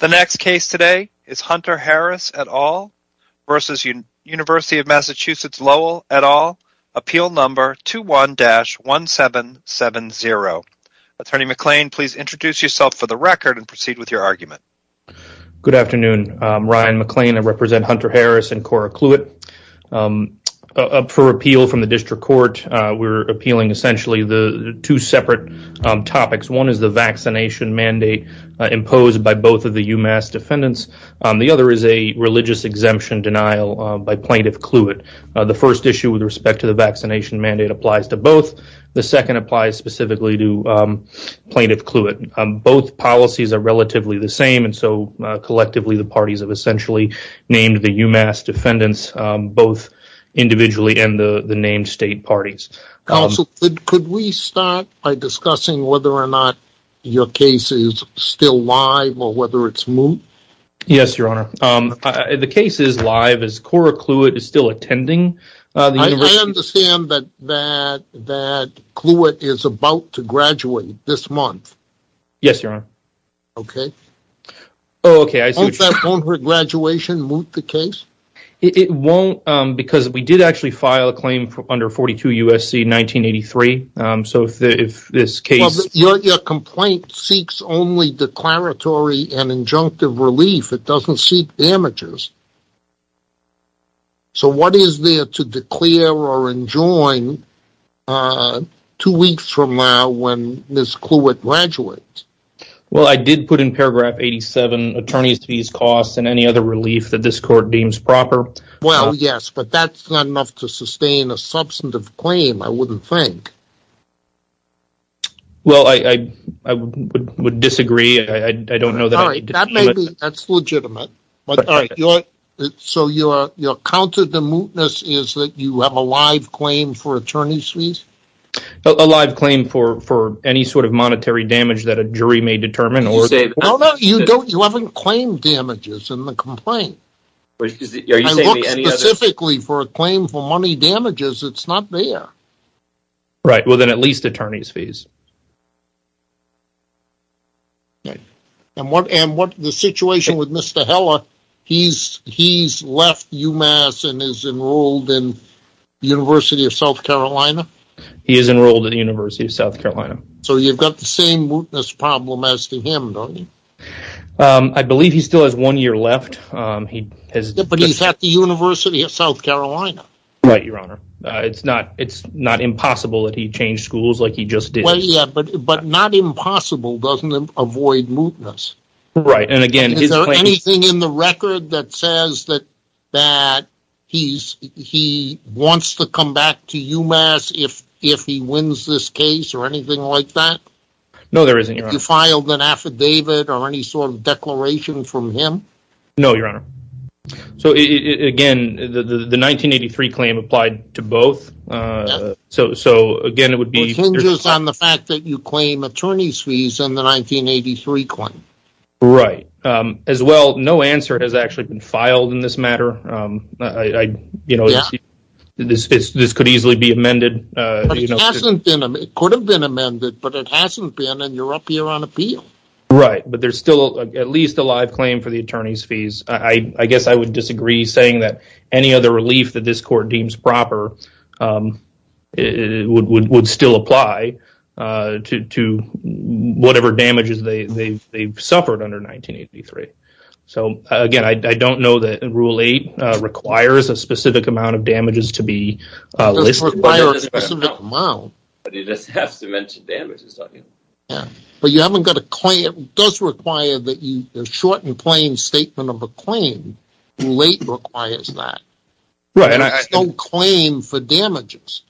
et al. Appeal number 21-1770. Attorney McClain, please introduce yourself for the record and proceed with your argument. Good afternoon. I'm Ryan McClain. I represent Hunter Harris and Cora Kluett. For appeal from the District Court, we're appealing essentially the two separate topics. One is the vaccination mandate imposed by both of the UMass defendants. The other is a religious exemption denial by Plaintiff Kluett. The first issue with respect to the vaccination mandate applies to both. The second applies specifically to Plaintiff Kluett. Both policies are relatively the same, and so collectively the parties have essentially named the UMass defendants both individually and the named state parties. Counsel, could we start by discussing whether or not your case is still live or whether it's moot? Yes, Your Honor. The case is live as Cora Kluett is still attending. I understand that Kluett is about to graduate this month. Yes, Your Honor. Okay. Oh, okay. Won't her graduation moot the case? It won't because we did actually file a claim under 42 U.S.C. 1983, so if this case... Your complaint seeks only declaratory and injunctive relief. It doesn't seek damages. So what is there to declare or enjoin two weeks from now when Ms. Kluett graduates? Well, I did put in paragraph 87 attorneys fees costs and any other relief that this court deems proper. Well, yes, but that's not enough to sustain a substantive claim, I wouldn't think. Well, I would disagree. I don't know that. All right, that may be, that's legitimate. But all right, so your counter to mootness is that you have a live claim for attorneys fees? A live claim for any sort of monetary damage that a jury may determine. No, no, you don't. You haven't claimed damages in the complaint. I look specifically for a claim for money damages. It's not there. Right, well, then at least attorneys fees. Okay, and what the situation with Mr. Heller? He's left UMass and is enrolled in University of South Carolina? He is enrolled in University of South Carolina. So you've got the same mootness problem as to him, don't you? I believe he still has one year left. But he's at the University of South Carolina. Right, your honor. It's not impossible that he changed schools like he just did. Well, yeah, but not impossible doesn't avoid mootness. Right, and again, is there anything in the record that says that he wants to come back to UMass if he wins this case or anything like that? No, there isn't. You filed an affidavit or any sort of declaration from him? No, your honor. So again, the 1983 claim applied to both. So again, it would be on the fact that you claim attorneys fees in the 1983 claim. Right, as well, no answer has actually been filed in this matter. I, you know, this could easily be amended. It could have been amended, but it hasn't been and you're up here on appeal. Right, but there's still at least a live claim for the attorney's fees. I guess I would disagree saying that any other relief that this court deems proper would still apply to whatever damages they've suffered under 1983. So again, I don't know that Rule 8 requires a specific amount of damages to be listed. It doesn't require a specific amount. But you just have to mention damages, don't you? Yeah, but you haven't got a claim. It does require that you a short and plain statement of a claim. Rule 8 requires that. Right, and I There's no claim for damages.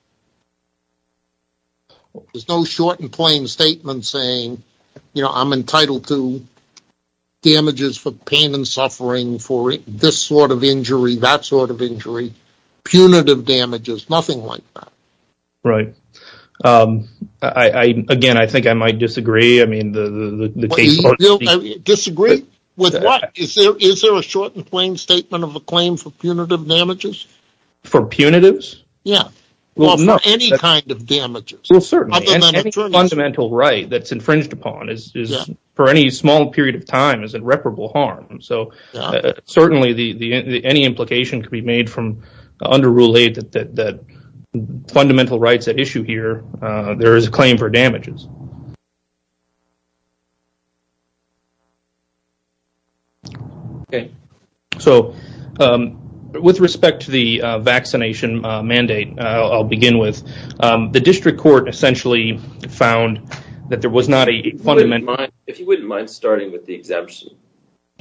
There's no short and plain statement saying, you know, I'm entitled to damages for pain and suffering for this sort of injury, that sort of injury, punitive damages, nothing like that. Right. I, again, I think I might disagree. I mean, the case Disagree with what? Is there a short and plain statement of a claim for punitive damages? For punitives? Yeah. Well, for any kind of damages. Well, certainly any fundamental right that's infringed upon is, for any small period of time, is irreparable harm. So certainly any implication could be made from under Rule 8 that fundamental rights at issue here, there is a claim for damages. Okay, so with respect to the vaccination mandate, I'll begin with the district court essentially found that there was not a fundamental If you wouldn't mind starting with the exemption.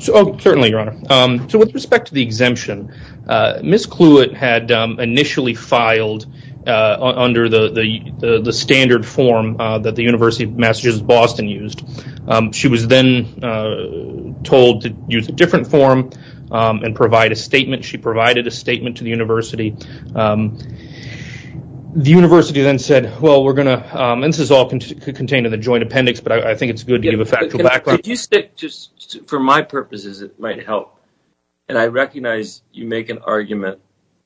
Oh, certainly, Your Honor. So with respect to the exemption, Ms. Kluwet had initially filed under the standard form that the University of Michigan had messages Boston used. She was then told to use a different form and provide a statement. She provided a statement to the university. The university then said, well, we're going to, and this is all contained in the joint appendix, but I think it's good to give a factual background. Could you stick just for my purposes, it might help. And I recognize you make an argument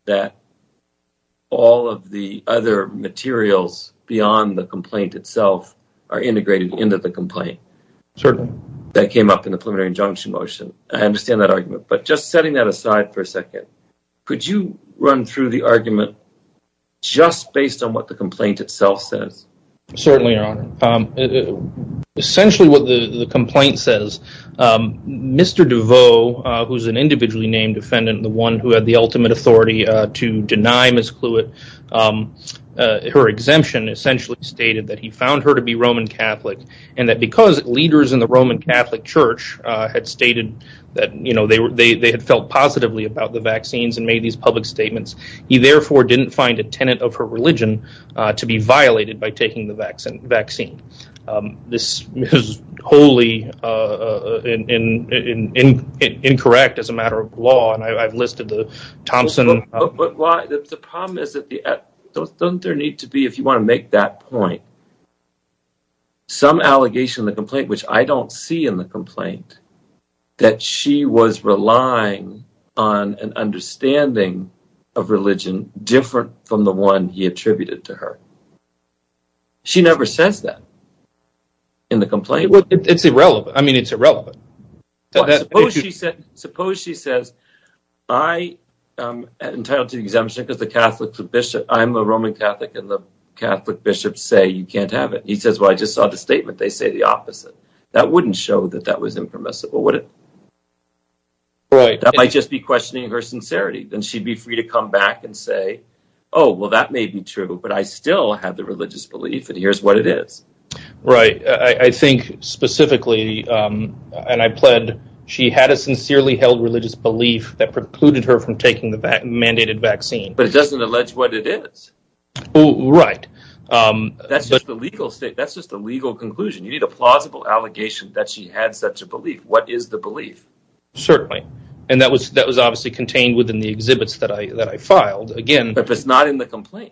that all of the other materials beyond the complaint itself are integrated into the complaint. That came up in the preliminary injunction motion. I understand that argument, but just setting that aside for a second, could you run through the argument just based on what the complaint itself says? Certainly, Your Honor. Essentially what the complaint says, Mr. Deveau, who's an individually named defendant, the one who had the ultimate authority to deny Ms. Kluwet, her exemption essentially stated that he found her to be Roman Catholic and that because leaders in the Roman Catholic Church had stated that they had felt positively about the vaccines and made these public statements, he therefore didn't find a tenant of her religion to be violated by taking the vaccine. This is wholly incorrect as a matter of law, and I've listed the Thompson... There need to be, if you want to make that point, some allegation in the complaint, which I don't see in the complaint, that she was relying on an understanding of religion different from the one he attributed to her. She never says that in the complaint. Well, it's irrelevant. I mean, it's irrelevant. Suppose she says, I am entitled to the exemption because I'm a Roman Catholic and the Catholic bishops say you can't have it. He says, well, I just saw the statement. They say the opposite. That wouldn't show that that was impermissible, would it? That might just be questioning her sincerity. Then she'd be free to come back and say, oh, well, that may be true, but I still have the religious belief and here's what it is. Right. I think specifically, and I pled, she had a sincerely held religious belief that precluded her from taking the mandated vaccine. But it doesn't allege what it is. Right. That's just the legal state. That's just the legal conclusion. You need a plausible allegation that she had such a belief. What is the belief? Certainly. And that was obviously contained within the exhibits that I filed. Again... It's not in the complaint.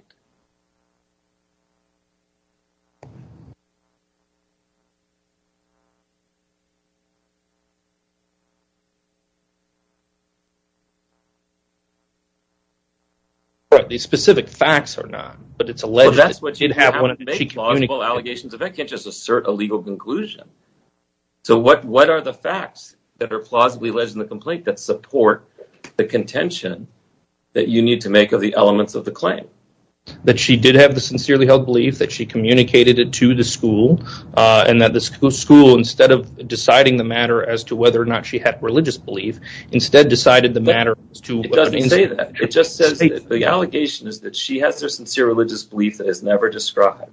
These specific facts are not, but it's alleged... That's what you'd have one of the allegations of that can't just assert a legal conclusion. So what what are the facts that are plausibly alleged in the complaint that support the contention that you need to make of the elements of the claim? That she did have the sincerely held belief that she communicated it to the school and that the school, instead of deciding the matter as to whether or not she had religious belief, instead decided the matter as to... It doesn't say that. It just says that the allegation is that she has their sincere religious belief that is never described.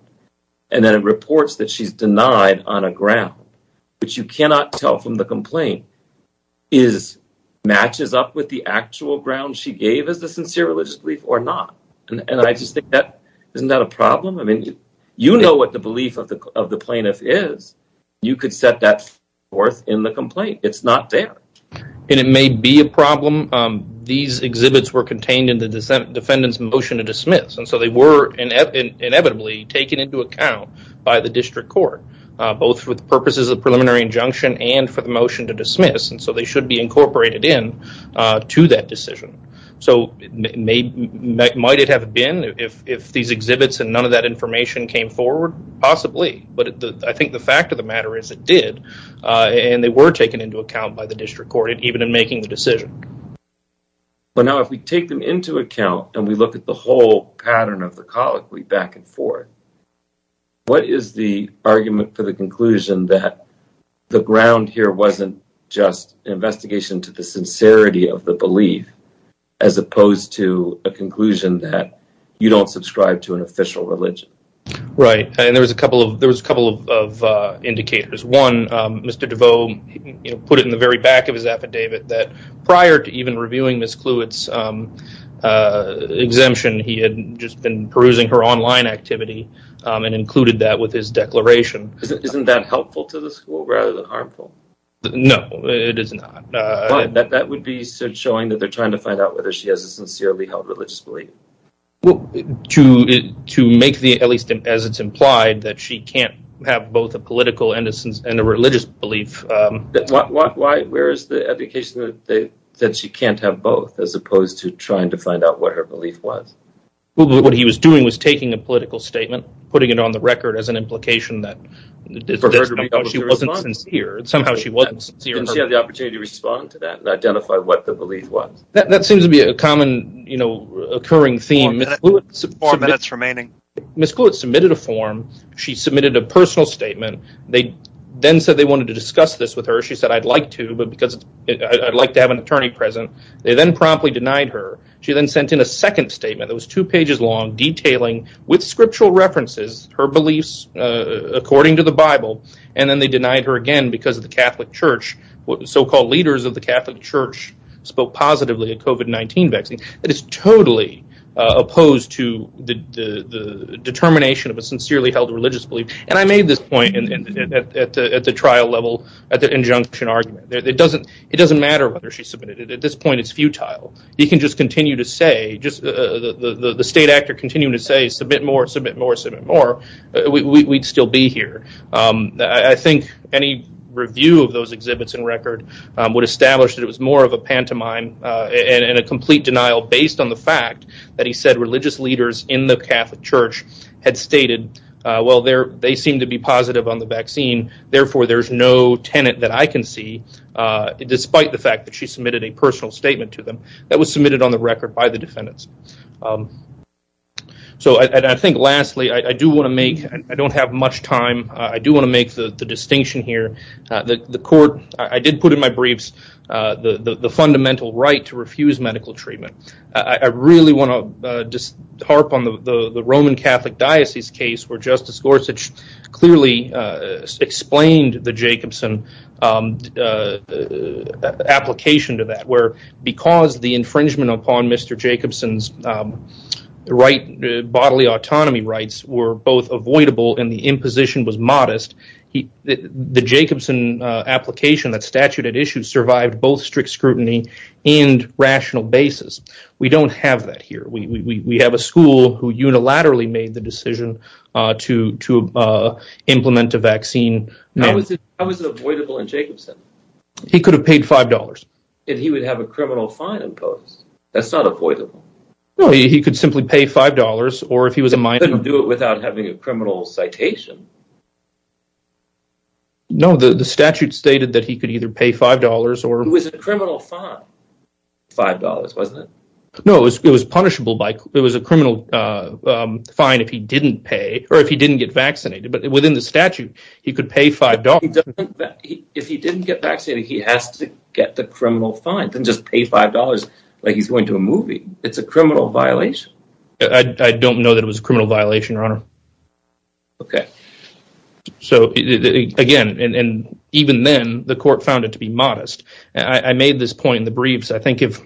And then it reports that she's denied on a ground, which you cannot tell from the complaint, is matches up with the actual ground she gave as the sincere religious belief or not. And I just think that isn't that a problem? I mean, you know what the belief of the plaintiff is. You could set that forth in the complaint. It's not there. And it may be a problem. These exhibits were contained in the defendant's motion to dismiss. And so they were inevitably taken into account by the district court, both with purposes of preliminary injunction and for the motion to dismiss. And so they should be incorporated in to that decision. So might it have been if these exhibits and none of that information came forward? Possibly. But I think the fact of the matter is it did. And they were taken into account by the district court, even in making the decision. But now if we take them into account and we look at the whole pattern of the colloquy back and forth, what is the argument for the conclusion that the ground here wasn't just an investigation to the sincerity of the belief as opposed to a conclusion that you don't subscribe to an official religion? Right. And there was a couple of there was a couple of indicators. One, Mr. DeVoe put it in the very back of his affidavit that prior to even reviewing Ms. Kluwet's exemption, he had just been perusing her online activity and included that with his declaration. Isn't that helpful to the school rather than harmful? No, it is not. That would be showing that they're trying to find out whether she has a sincerely held religious belief. Well, to to make the at least as it's implied that she can't have both a political innocence and a religious belief. Why? Where is the indication that she can't have both as opposed to trying to find out what her belief was? What he was doing was taking a political statement, putting it on the record as an implication that she wasn't sincere. And somehow she wasn't sincere. And she had the opportunity to respond to that and identify what the belief was. That seems to be a common, you know, occurring theme. Four minutes remaining. Ms. Kluwet submitted a form. She submitted a personal statement. They then said they wanted to discuss this with her. She said, I'd like to, but because I'd like to have an attorney present. They then promptly denied her. She then sent in a second statement. It was two pages long, detailing with scriptural references her beliefs, according to the Bible. And then they denied her again because of the Catholic Church. So-called leaders of the Catholic Church spoke positively of COVID-19 vaccines. That is totally opposed to the determination of a sincerely held religious belief. And I made this point at the trial level, at the injunction argument. It doesn't matter whether she submitted it. At this point, it's futile. You can just continue to say, just the state actor continuing to say, submit more, submit more, submit more. We'd still be here. I think any review of those exhibits and record would establish that it was more of a pantomime and a complete denial based on the fact that he said religious leaders in the Catholic Church had stated, well, they seem to be positive on the vaccine. Therefore, there's no tenant that I can see, despite the fact that she submitted a personal statement to them that was submitted on the record by the defendants. So I think lastly, I do want to make, I don't have much time. I do want to make the distinction here. The court, I did put in my briefs the fundamental right to refuse medical treatment. I really want to just harp on the Roman Catholic Diocese case where Justice Gorsuch clearly explained the Jacobson application to that, where because the infringement upon Mr. Jacobson's autonomy rights were both avoidable and the imposition was modest, the Jacobson application that statute had issued survived both strict scrutiny and rational basis. We don't have that here. We have a school who unilaterally made the decision to implement a vaccine. How is it avoidable in Jacobson? He could have paid $5. And he would have a criminal fine imposed. That's not avoidable. No, he could simply pay $5 or if he was a minor. He couldn't do it without having a criminal citation. No, the statute stated that he could either pay $5 or. It was a criminal fine. $5, wasn't it? No, it was punishable by, it was a criminal fine if he didn't pay or if he didn't get vaccinated. But within the statute, he could pay $5. If he didn't get vaccinated, he has to get the $5 like he's going to a movie. It's a criminal violation. I don't know that it was a criminal violation, Your Honor. Okay. So again, and even then, the court found it to be modest. I made this point in the briefs. I think if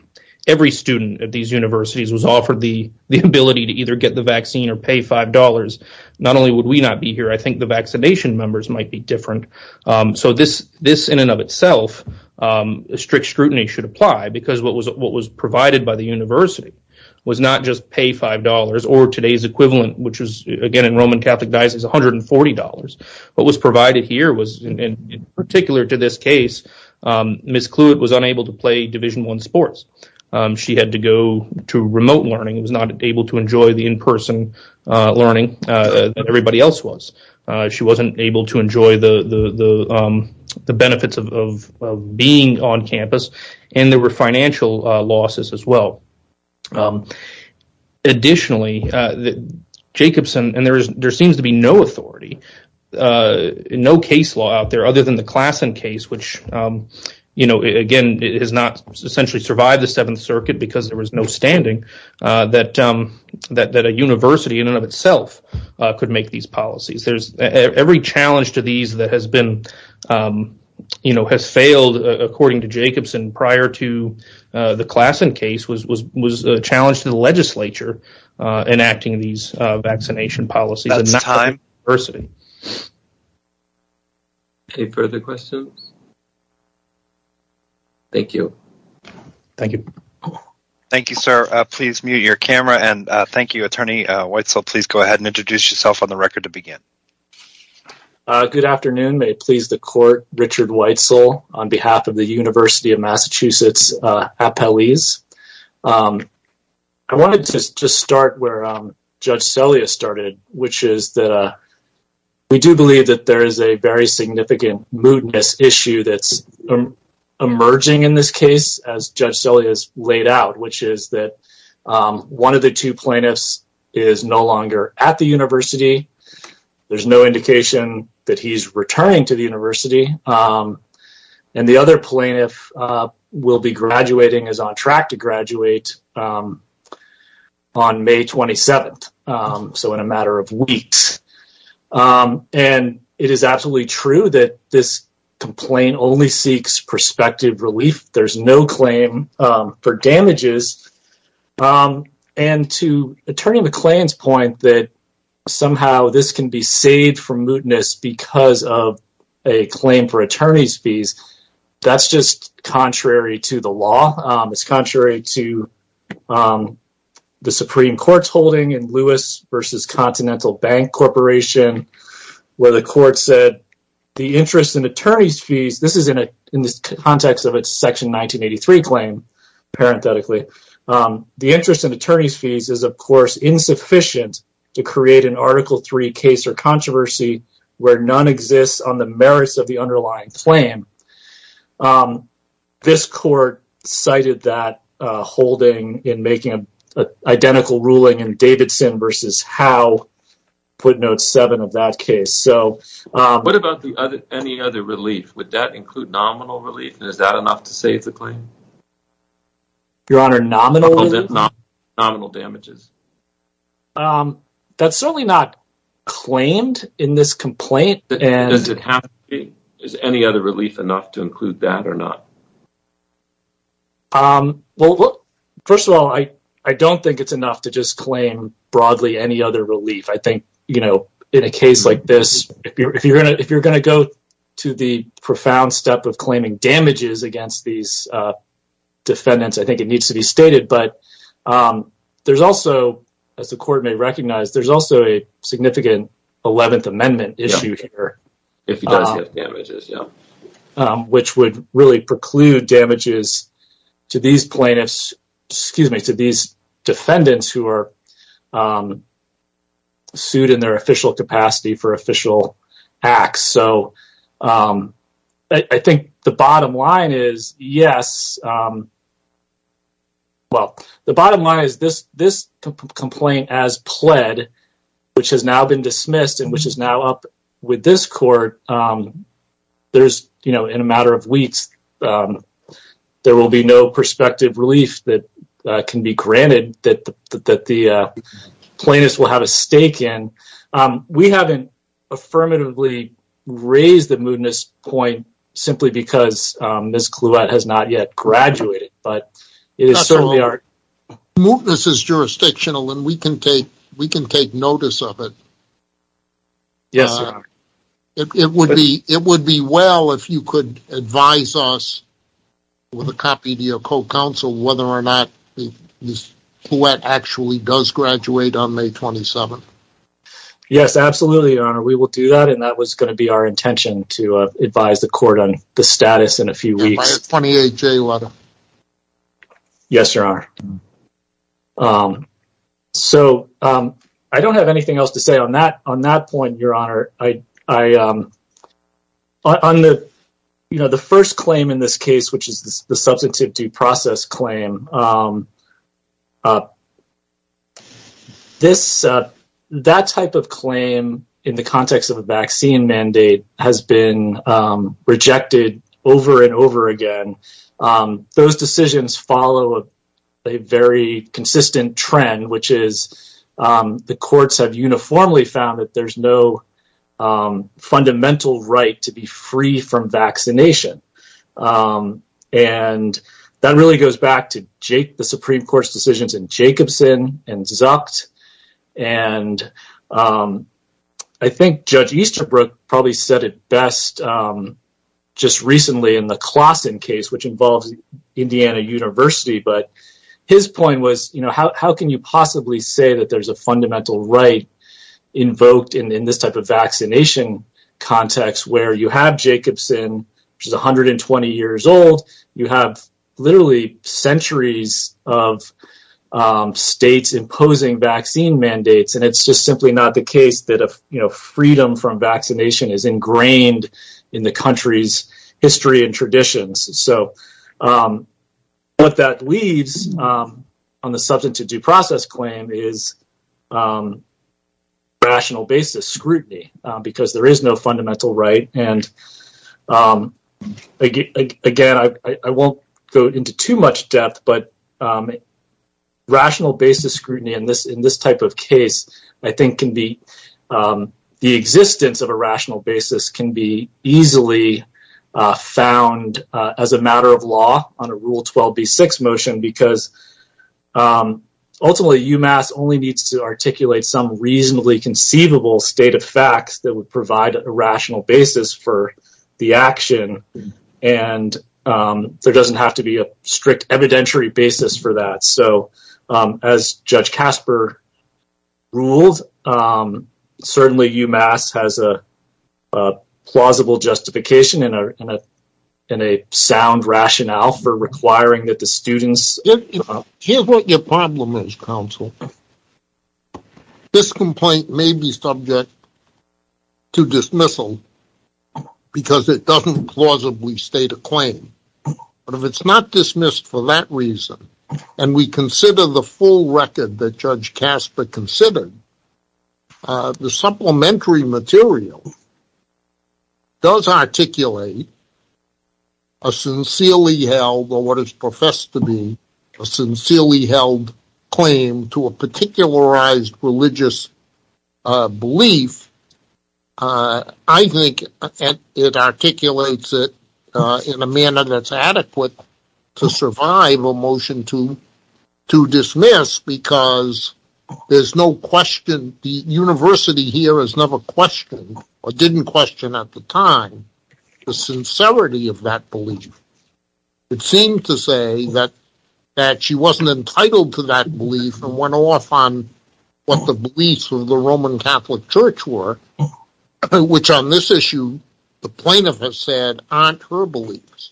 every student at these universities was offered the ability to either get the vaccine or pay $5, not only would we not be here, I think the vaccination members might be different. So this in and of itself, strict scrutiny should apply because what was provided by the university was not just pay $5 or today's equivalent, which was again in Roman Catholic Diocese, $140. What was provided here was, in particular to this case, Ms. Kluett was unable to play Division I sports. She had to go to remote learning, was not able to enjoy the in-person learning that everybody else was. She wasn't able to enjoy the benefits of being on campus, and there were financial losses as well. Additionally, Jacobson, and there seems to be no authority, no case law out there other than the Klassen case, which again has not essentially survived the Seventh Circuit because there was no standing, that a university in and of itself could make these policies. Every challenge to these that has failed, according to Jacobson, prior to the Klassen case was a challenge to the legislature enacting these vaccination policies. That's time. Okay, further questions? Thank you. Thank you. Thank you, sir. Please mute your camera and thank you. Attorney Weitzel, please go ahead and introduce yourself on the record to begin. Good afternoon. May it please the court, Richard Weitzel, on behalf of the University of Massachusetts Appellees. I wanted to just start where Judge Celia started, which is that we do believe that there is a very significant moodness issue that's emerging in this case, as Judge Celia has laid out, which is that one of the two plaintiffs is no longer at the university. There's no indication that he's returning to the university, and the other plaintiff will be graduating, is on track to graduate on May 27th, so in a matter of weeks. It is absolutely true that this complaint only seeks prospective relief. There's no claim for damages. To Attorney McLean's point that somehow this can be saved for moodness because of a claim for attorney's fees, that's just to the law. It's contrary to the Supreme Court's holding in Lewis v. Continental Bank Corporation, where the court said the interest in attorney's fees, this is in the context of its Section 1983 claim, parenthetically. The interest in attorney's fees is, of course, insufficient to create an interest. This court cited that holding in making an identical ruling in Davidson v. Howe, put note 7 of that case. What about any other relief? Would that include nominal relief, and is that enough to save the claim? Your Honor, nominal relief? Nominal damages. That's certainly not claimed in this complaint. Does it have to be? Is any other relief enough to include that or not? First of all, I don't think it's enough to just claim broadly any other relief. I think in a case like this, if you're going to go to the profound step of claiming damages against these defendants, I think it needs to be stated. But there's also, as the court may recognize, there's also a significant Eleventh Amendment issue here. If he does have damages, yeah. Which would really preclude damages to these plaintiffs, excuse me, to these defendants who are sued in their official capacity for official acts. So I think the bottom line is, yes, well, the bottom line is this complaint as pled, which has now been dismissed and which is now up with this court, there's, you know, in a matter of weeks, there will be no prospective relief that can be granted that the plaintiffs will have a stake in. We haven't affirmatively raised the mootness point simply because Ms. Kluette has not yet graduated, but it is certainly our... It would be well if you could advise us with a copy to your co-counsel whether or not Ms. Kluette actually does graduate on May 27. Yes, absolutely, Your Honor. We will do that, and that was going to be our intention to advise the court on the status in a few weeks. Yes, Your Honor. So I don't have anything else to say on that point, Your Honor. I, on the, you know, the first claim in this case, which is the substantive due process claim, this, that type of claim in the context of a vaccine mandate has been rejected over and over again. Those decisions follow a very consistent trend, which is the courts have uniformly found that there's no fundamental right to be free from vaccination, and that really goes back to Jake, the Supreme Court's decisions in Jacobson and Zucked, and I think Judge Easterbrook probably said it best just recently in the Klassen case, which involves Indiana University, but his point was, you know, how can you possibly say that there's a fundamental right invoked in this type of vaccination context where you have Jacobson, which is 120 years old, you have literally centuries of states imposing vaccine mandates, and it's just simply not the case that, you know, freedom from vaccination is ingrained in the country's history and traditions. So, what that leaves on the substantive due process claim is rational basis scrutiny, because there is no fundamental right, and again, I won't go into too much depth, but rational basis scrutiny in this type of case, I think, can be, the existence of a rational basis can be easily found as a matter of law on a Rule 12b6 motion, because ultimately, UMass only needs to articulate some reasonably conceivable state of facts that would provide a rational basis for the action, and there doesn't have to be a strict evidentiary basis for that. So, as Judge Casper ruled, certainly UMass has a plausible justification and a sound rationale for requiring that the students... Here's what your problem is, counsel. This complaint may be subject to dismissal, because it doesn't plausibly state a claim, but if it's not dismissed for that reason, and we consider the full record that Judge Casper considered, the supplementary material does articulate a sincerely held, or what is professed to be, a sincerely held claim to a particularized religious belief, I think it articulates it in a manner that's adequate to survive a motion to dismiss, because there's no question, the university here has never questioned, or didn't question at the time, the sincerity of that belief. It seemed to say that she wasn't entitled to that belief, and went off on what the beliefs of the Roman Catholic Church were, which on this issue, the plaintiff has said, aren't her beliefs.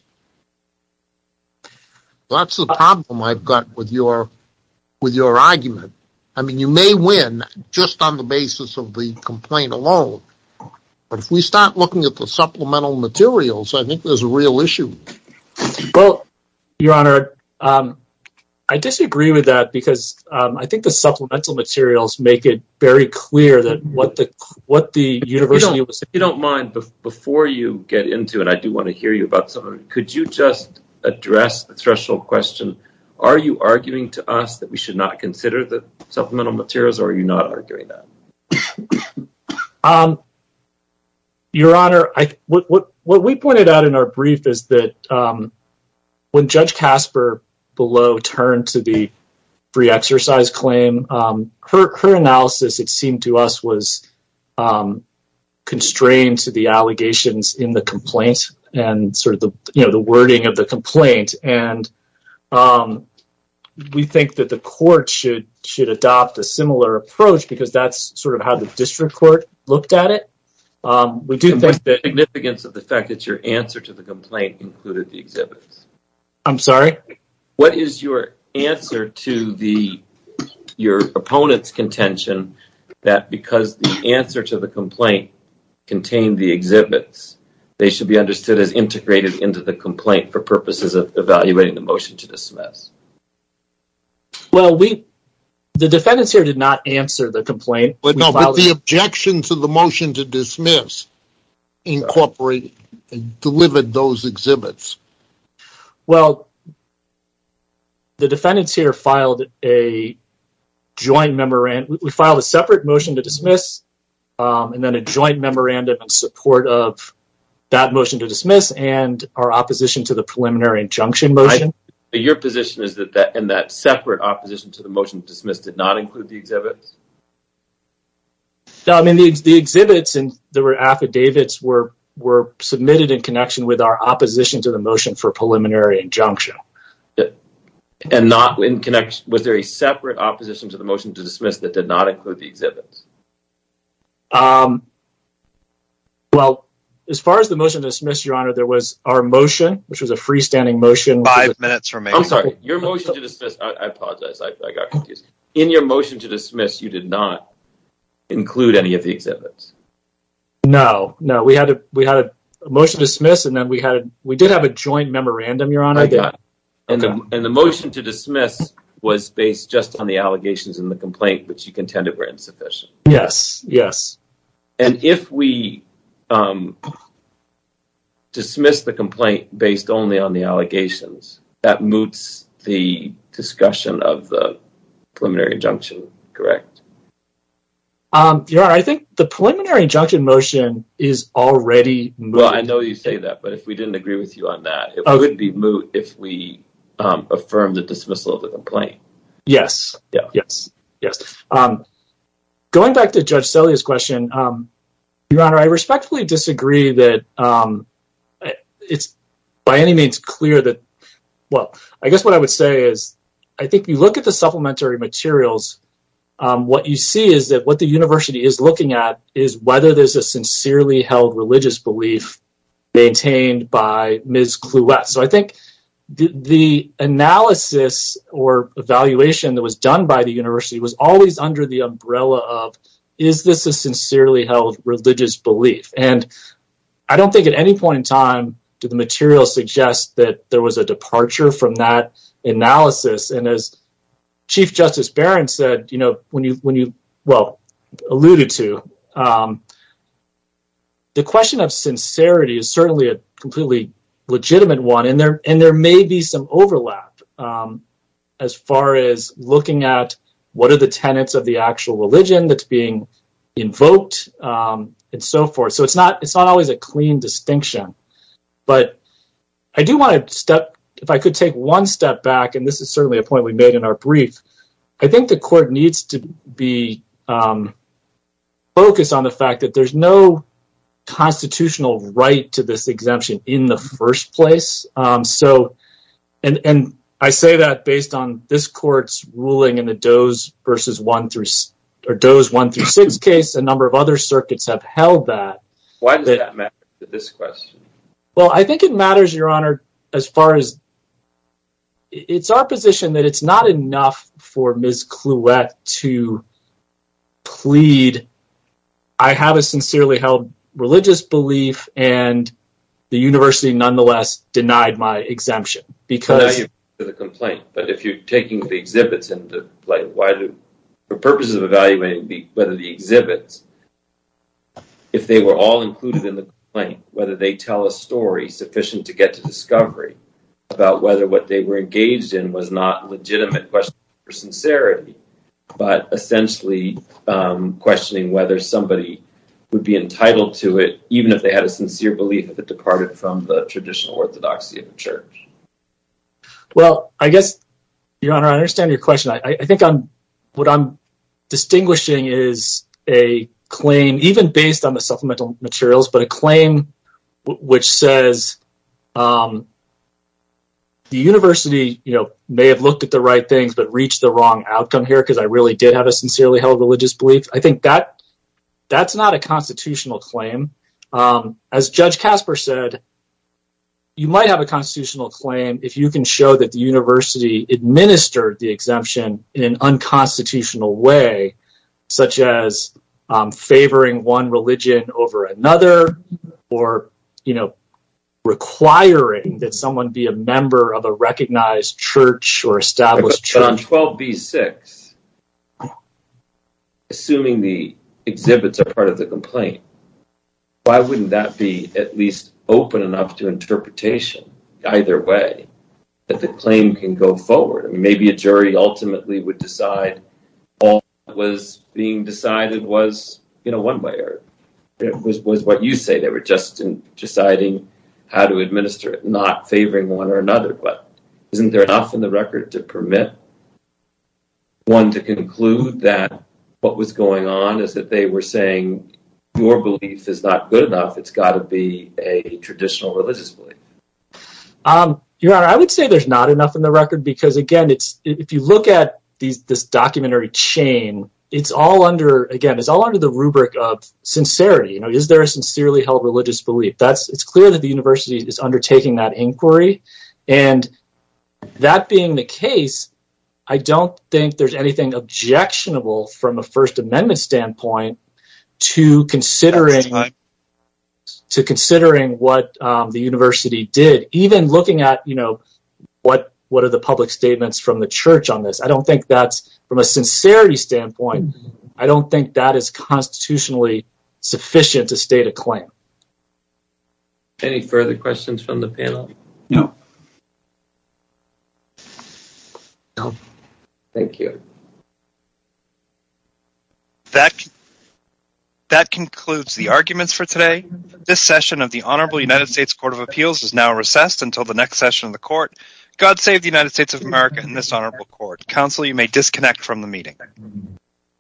That's the problem I've got with your argument. I mean, you may win just on the basis of the complaint alone, but if we start looking at the supplemental materials, I think there's a real issue. Well, your honor, I disagree with that, because I think the supplemental materials make it very clear that what the university... If you don't mind, before you get into it, I do want to hear you about something. Could you just address the threshold question? Are you arguing to us that we should not consider the supplemental materials, or are you not arguing that? Your honor, what we pointed out in our brief is that when Judge Casper below turned to the free exercise claim, her analysis, it seemed to us, was constrained to the allegations in the complaint, and sort of the wording of the approach, because that's sort of how the district court looked at it. We do think the significance of the fact that your answer to the complaint included the exhibits. I'm sorry? What is your answer to your opponent's contention that because the answer to the complaint contained the exhibits, they should be understood as integrated into the complaint for purposes of evaluating the motion to dismiss? Well, the defendants here did not answer the complaint. But no, but the objections of the motion to dismiss incorporated and delivered those exhibits. Well, the defendants here filed a joint memorandum. We filed a separate motion to dismiss, and then a joint memorandum in support of that motion to dismiss, and our opposition to the preliminary injunction motion. Your position is that that and that separate opposition to the motion to dismiss did not include the exhibits? No, I mean the exhibits and the affidavits were submitted in connection with our opposition to the motion for preliminary injunction. And not in connection, was there a separate opposition to the motion to dismiss that did not include the exhibits? Well, as far as the motion to dismiss, there was our motion, which was a freestanding motion. I'm sorry, your motion to dismiss, I apologize, I got confused. In your motion to dismiss, you did not include any of the exhibits? No, no, we had a motion to dismiss, and then we did have a joint memorandum. And the motion to dismiss was based just on the allegations in the complaint, which you contended were insufficient? Yes, yes. And if we dismiss the complaint based only on the allegations, that moots the discussion of the preliminary injunction, correct? Yeah, I think the preliminary injunction motion is already moot. Well, I know you say that, but if we didn't agree with you on that, it would be moot if we affirm the dismissal of the complaint. Yes, yes, yes. I'm going back to Judge Selye's question. Your Honor, I respectfully disagree that it's by any means clear that, well, I guess what I would say is, I think you look at the supplementary materials, what you see is that what the university is looking at is whether there's a sincerely held religious belief maintained by Ms. Clouette. So I think the analysis or evaluation that was done by the university was always under the umbrella of, is this a sincerely held religious belief? And I don't think at any point in time did the material suggest that there was a departure from that analysis. And as Chief Justice Barron said, when you, well, alluded to, the question of sincerity is certainly a completely legitimate one, and there may be some overlap as far as looking at what are the tenets of the actual religion that's being invoked and so forth. So it's not always a clean distinction. But I do want to step, if I could take one step back, and this is certainly a point we made in our brief, I think the court needs to be focused on the fact that there's no constitutional right to this exemption in the first place. So, and I say that based on this court's ruling in the Doe's 1-6 case, a number of other circuits have held that. Why does that matter to this question? Well, I think it matters, Your Honor, as far as, it's our position that it's not enough for Ms. Kluet to plead, I have a sincerely held religious belief, and the university nonetheless denied my exemption, because— I value the complaint, but if you're taking the exhibits and, like, why do, the purpose of evaluating whether the exhibits, if they were all included in the complaint, whether they tell a story sufficient to get to discovery about whether what they were engaged in was not a legitimate question for sincerity, but essentially questioning whether somebody would be entitled to it, even if they had a sincere belief that it departed from the traditional orthodoxy of the church. Well, I guess, Your Honor, I understand your question. I think I'm, what I'm distinguishing is a claim, even based on the supplemental materials, but a claim which says the university, you know, may have looked at the right things but reached the wrong outcome here because I really did have a sincerely held religious belief. I think that that's not a constitutional claim. As Judge Casper said, you might have a constitutional claim if you can show that the university administered the exemption in an unconstitutional way, such as favoring one that someone be a member of a recognized church or established church. But on 12b-6, assuming the exhibits are part of the complaint, why wouldn't that be at least open enough to interpretation, either way, that the claim can go forward? Maybe a jury ultimately would decide all that was being decided was, you know, one way or was what you say. They were just deciding how to administer it, not favoring one or another. But isn't there enough in the record to permit one to conclude that what was going on is that they were saying your belief is not good enough. It's got to be a traditional religious belief. Your Honor, I would say there's not enough in the record because, again, it's if you look at this documentary chain, it's all under, again, it's all under the rubric of sincerity. Is there a sincerely held religious belief? It's clear that the university is undertaking that inquiry. And that being the case, I don't think there's anything objectionable from a First Amendment standpoint to considering what the university did. Even looking at, you know, what are the public statements from the church on this? I don't think that's from a sincerity standpoint. I don't think that is constitutionally sufficient to state a claim. Any further questions from the panel? No. No, thank you. That concludes the arguments for today. This session of the Honorable United States Court of Appeals is now recessed until the next session of the court. God save the United States of America and this honorable court. Counsel, you may disconnect from the meeting.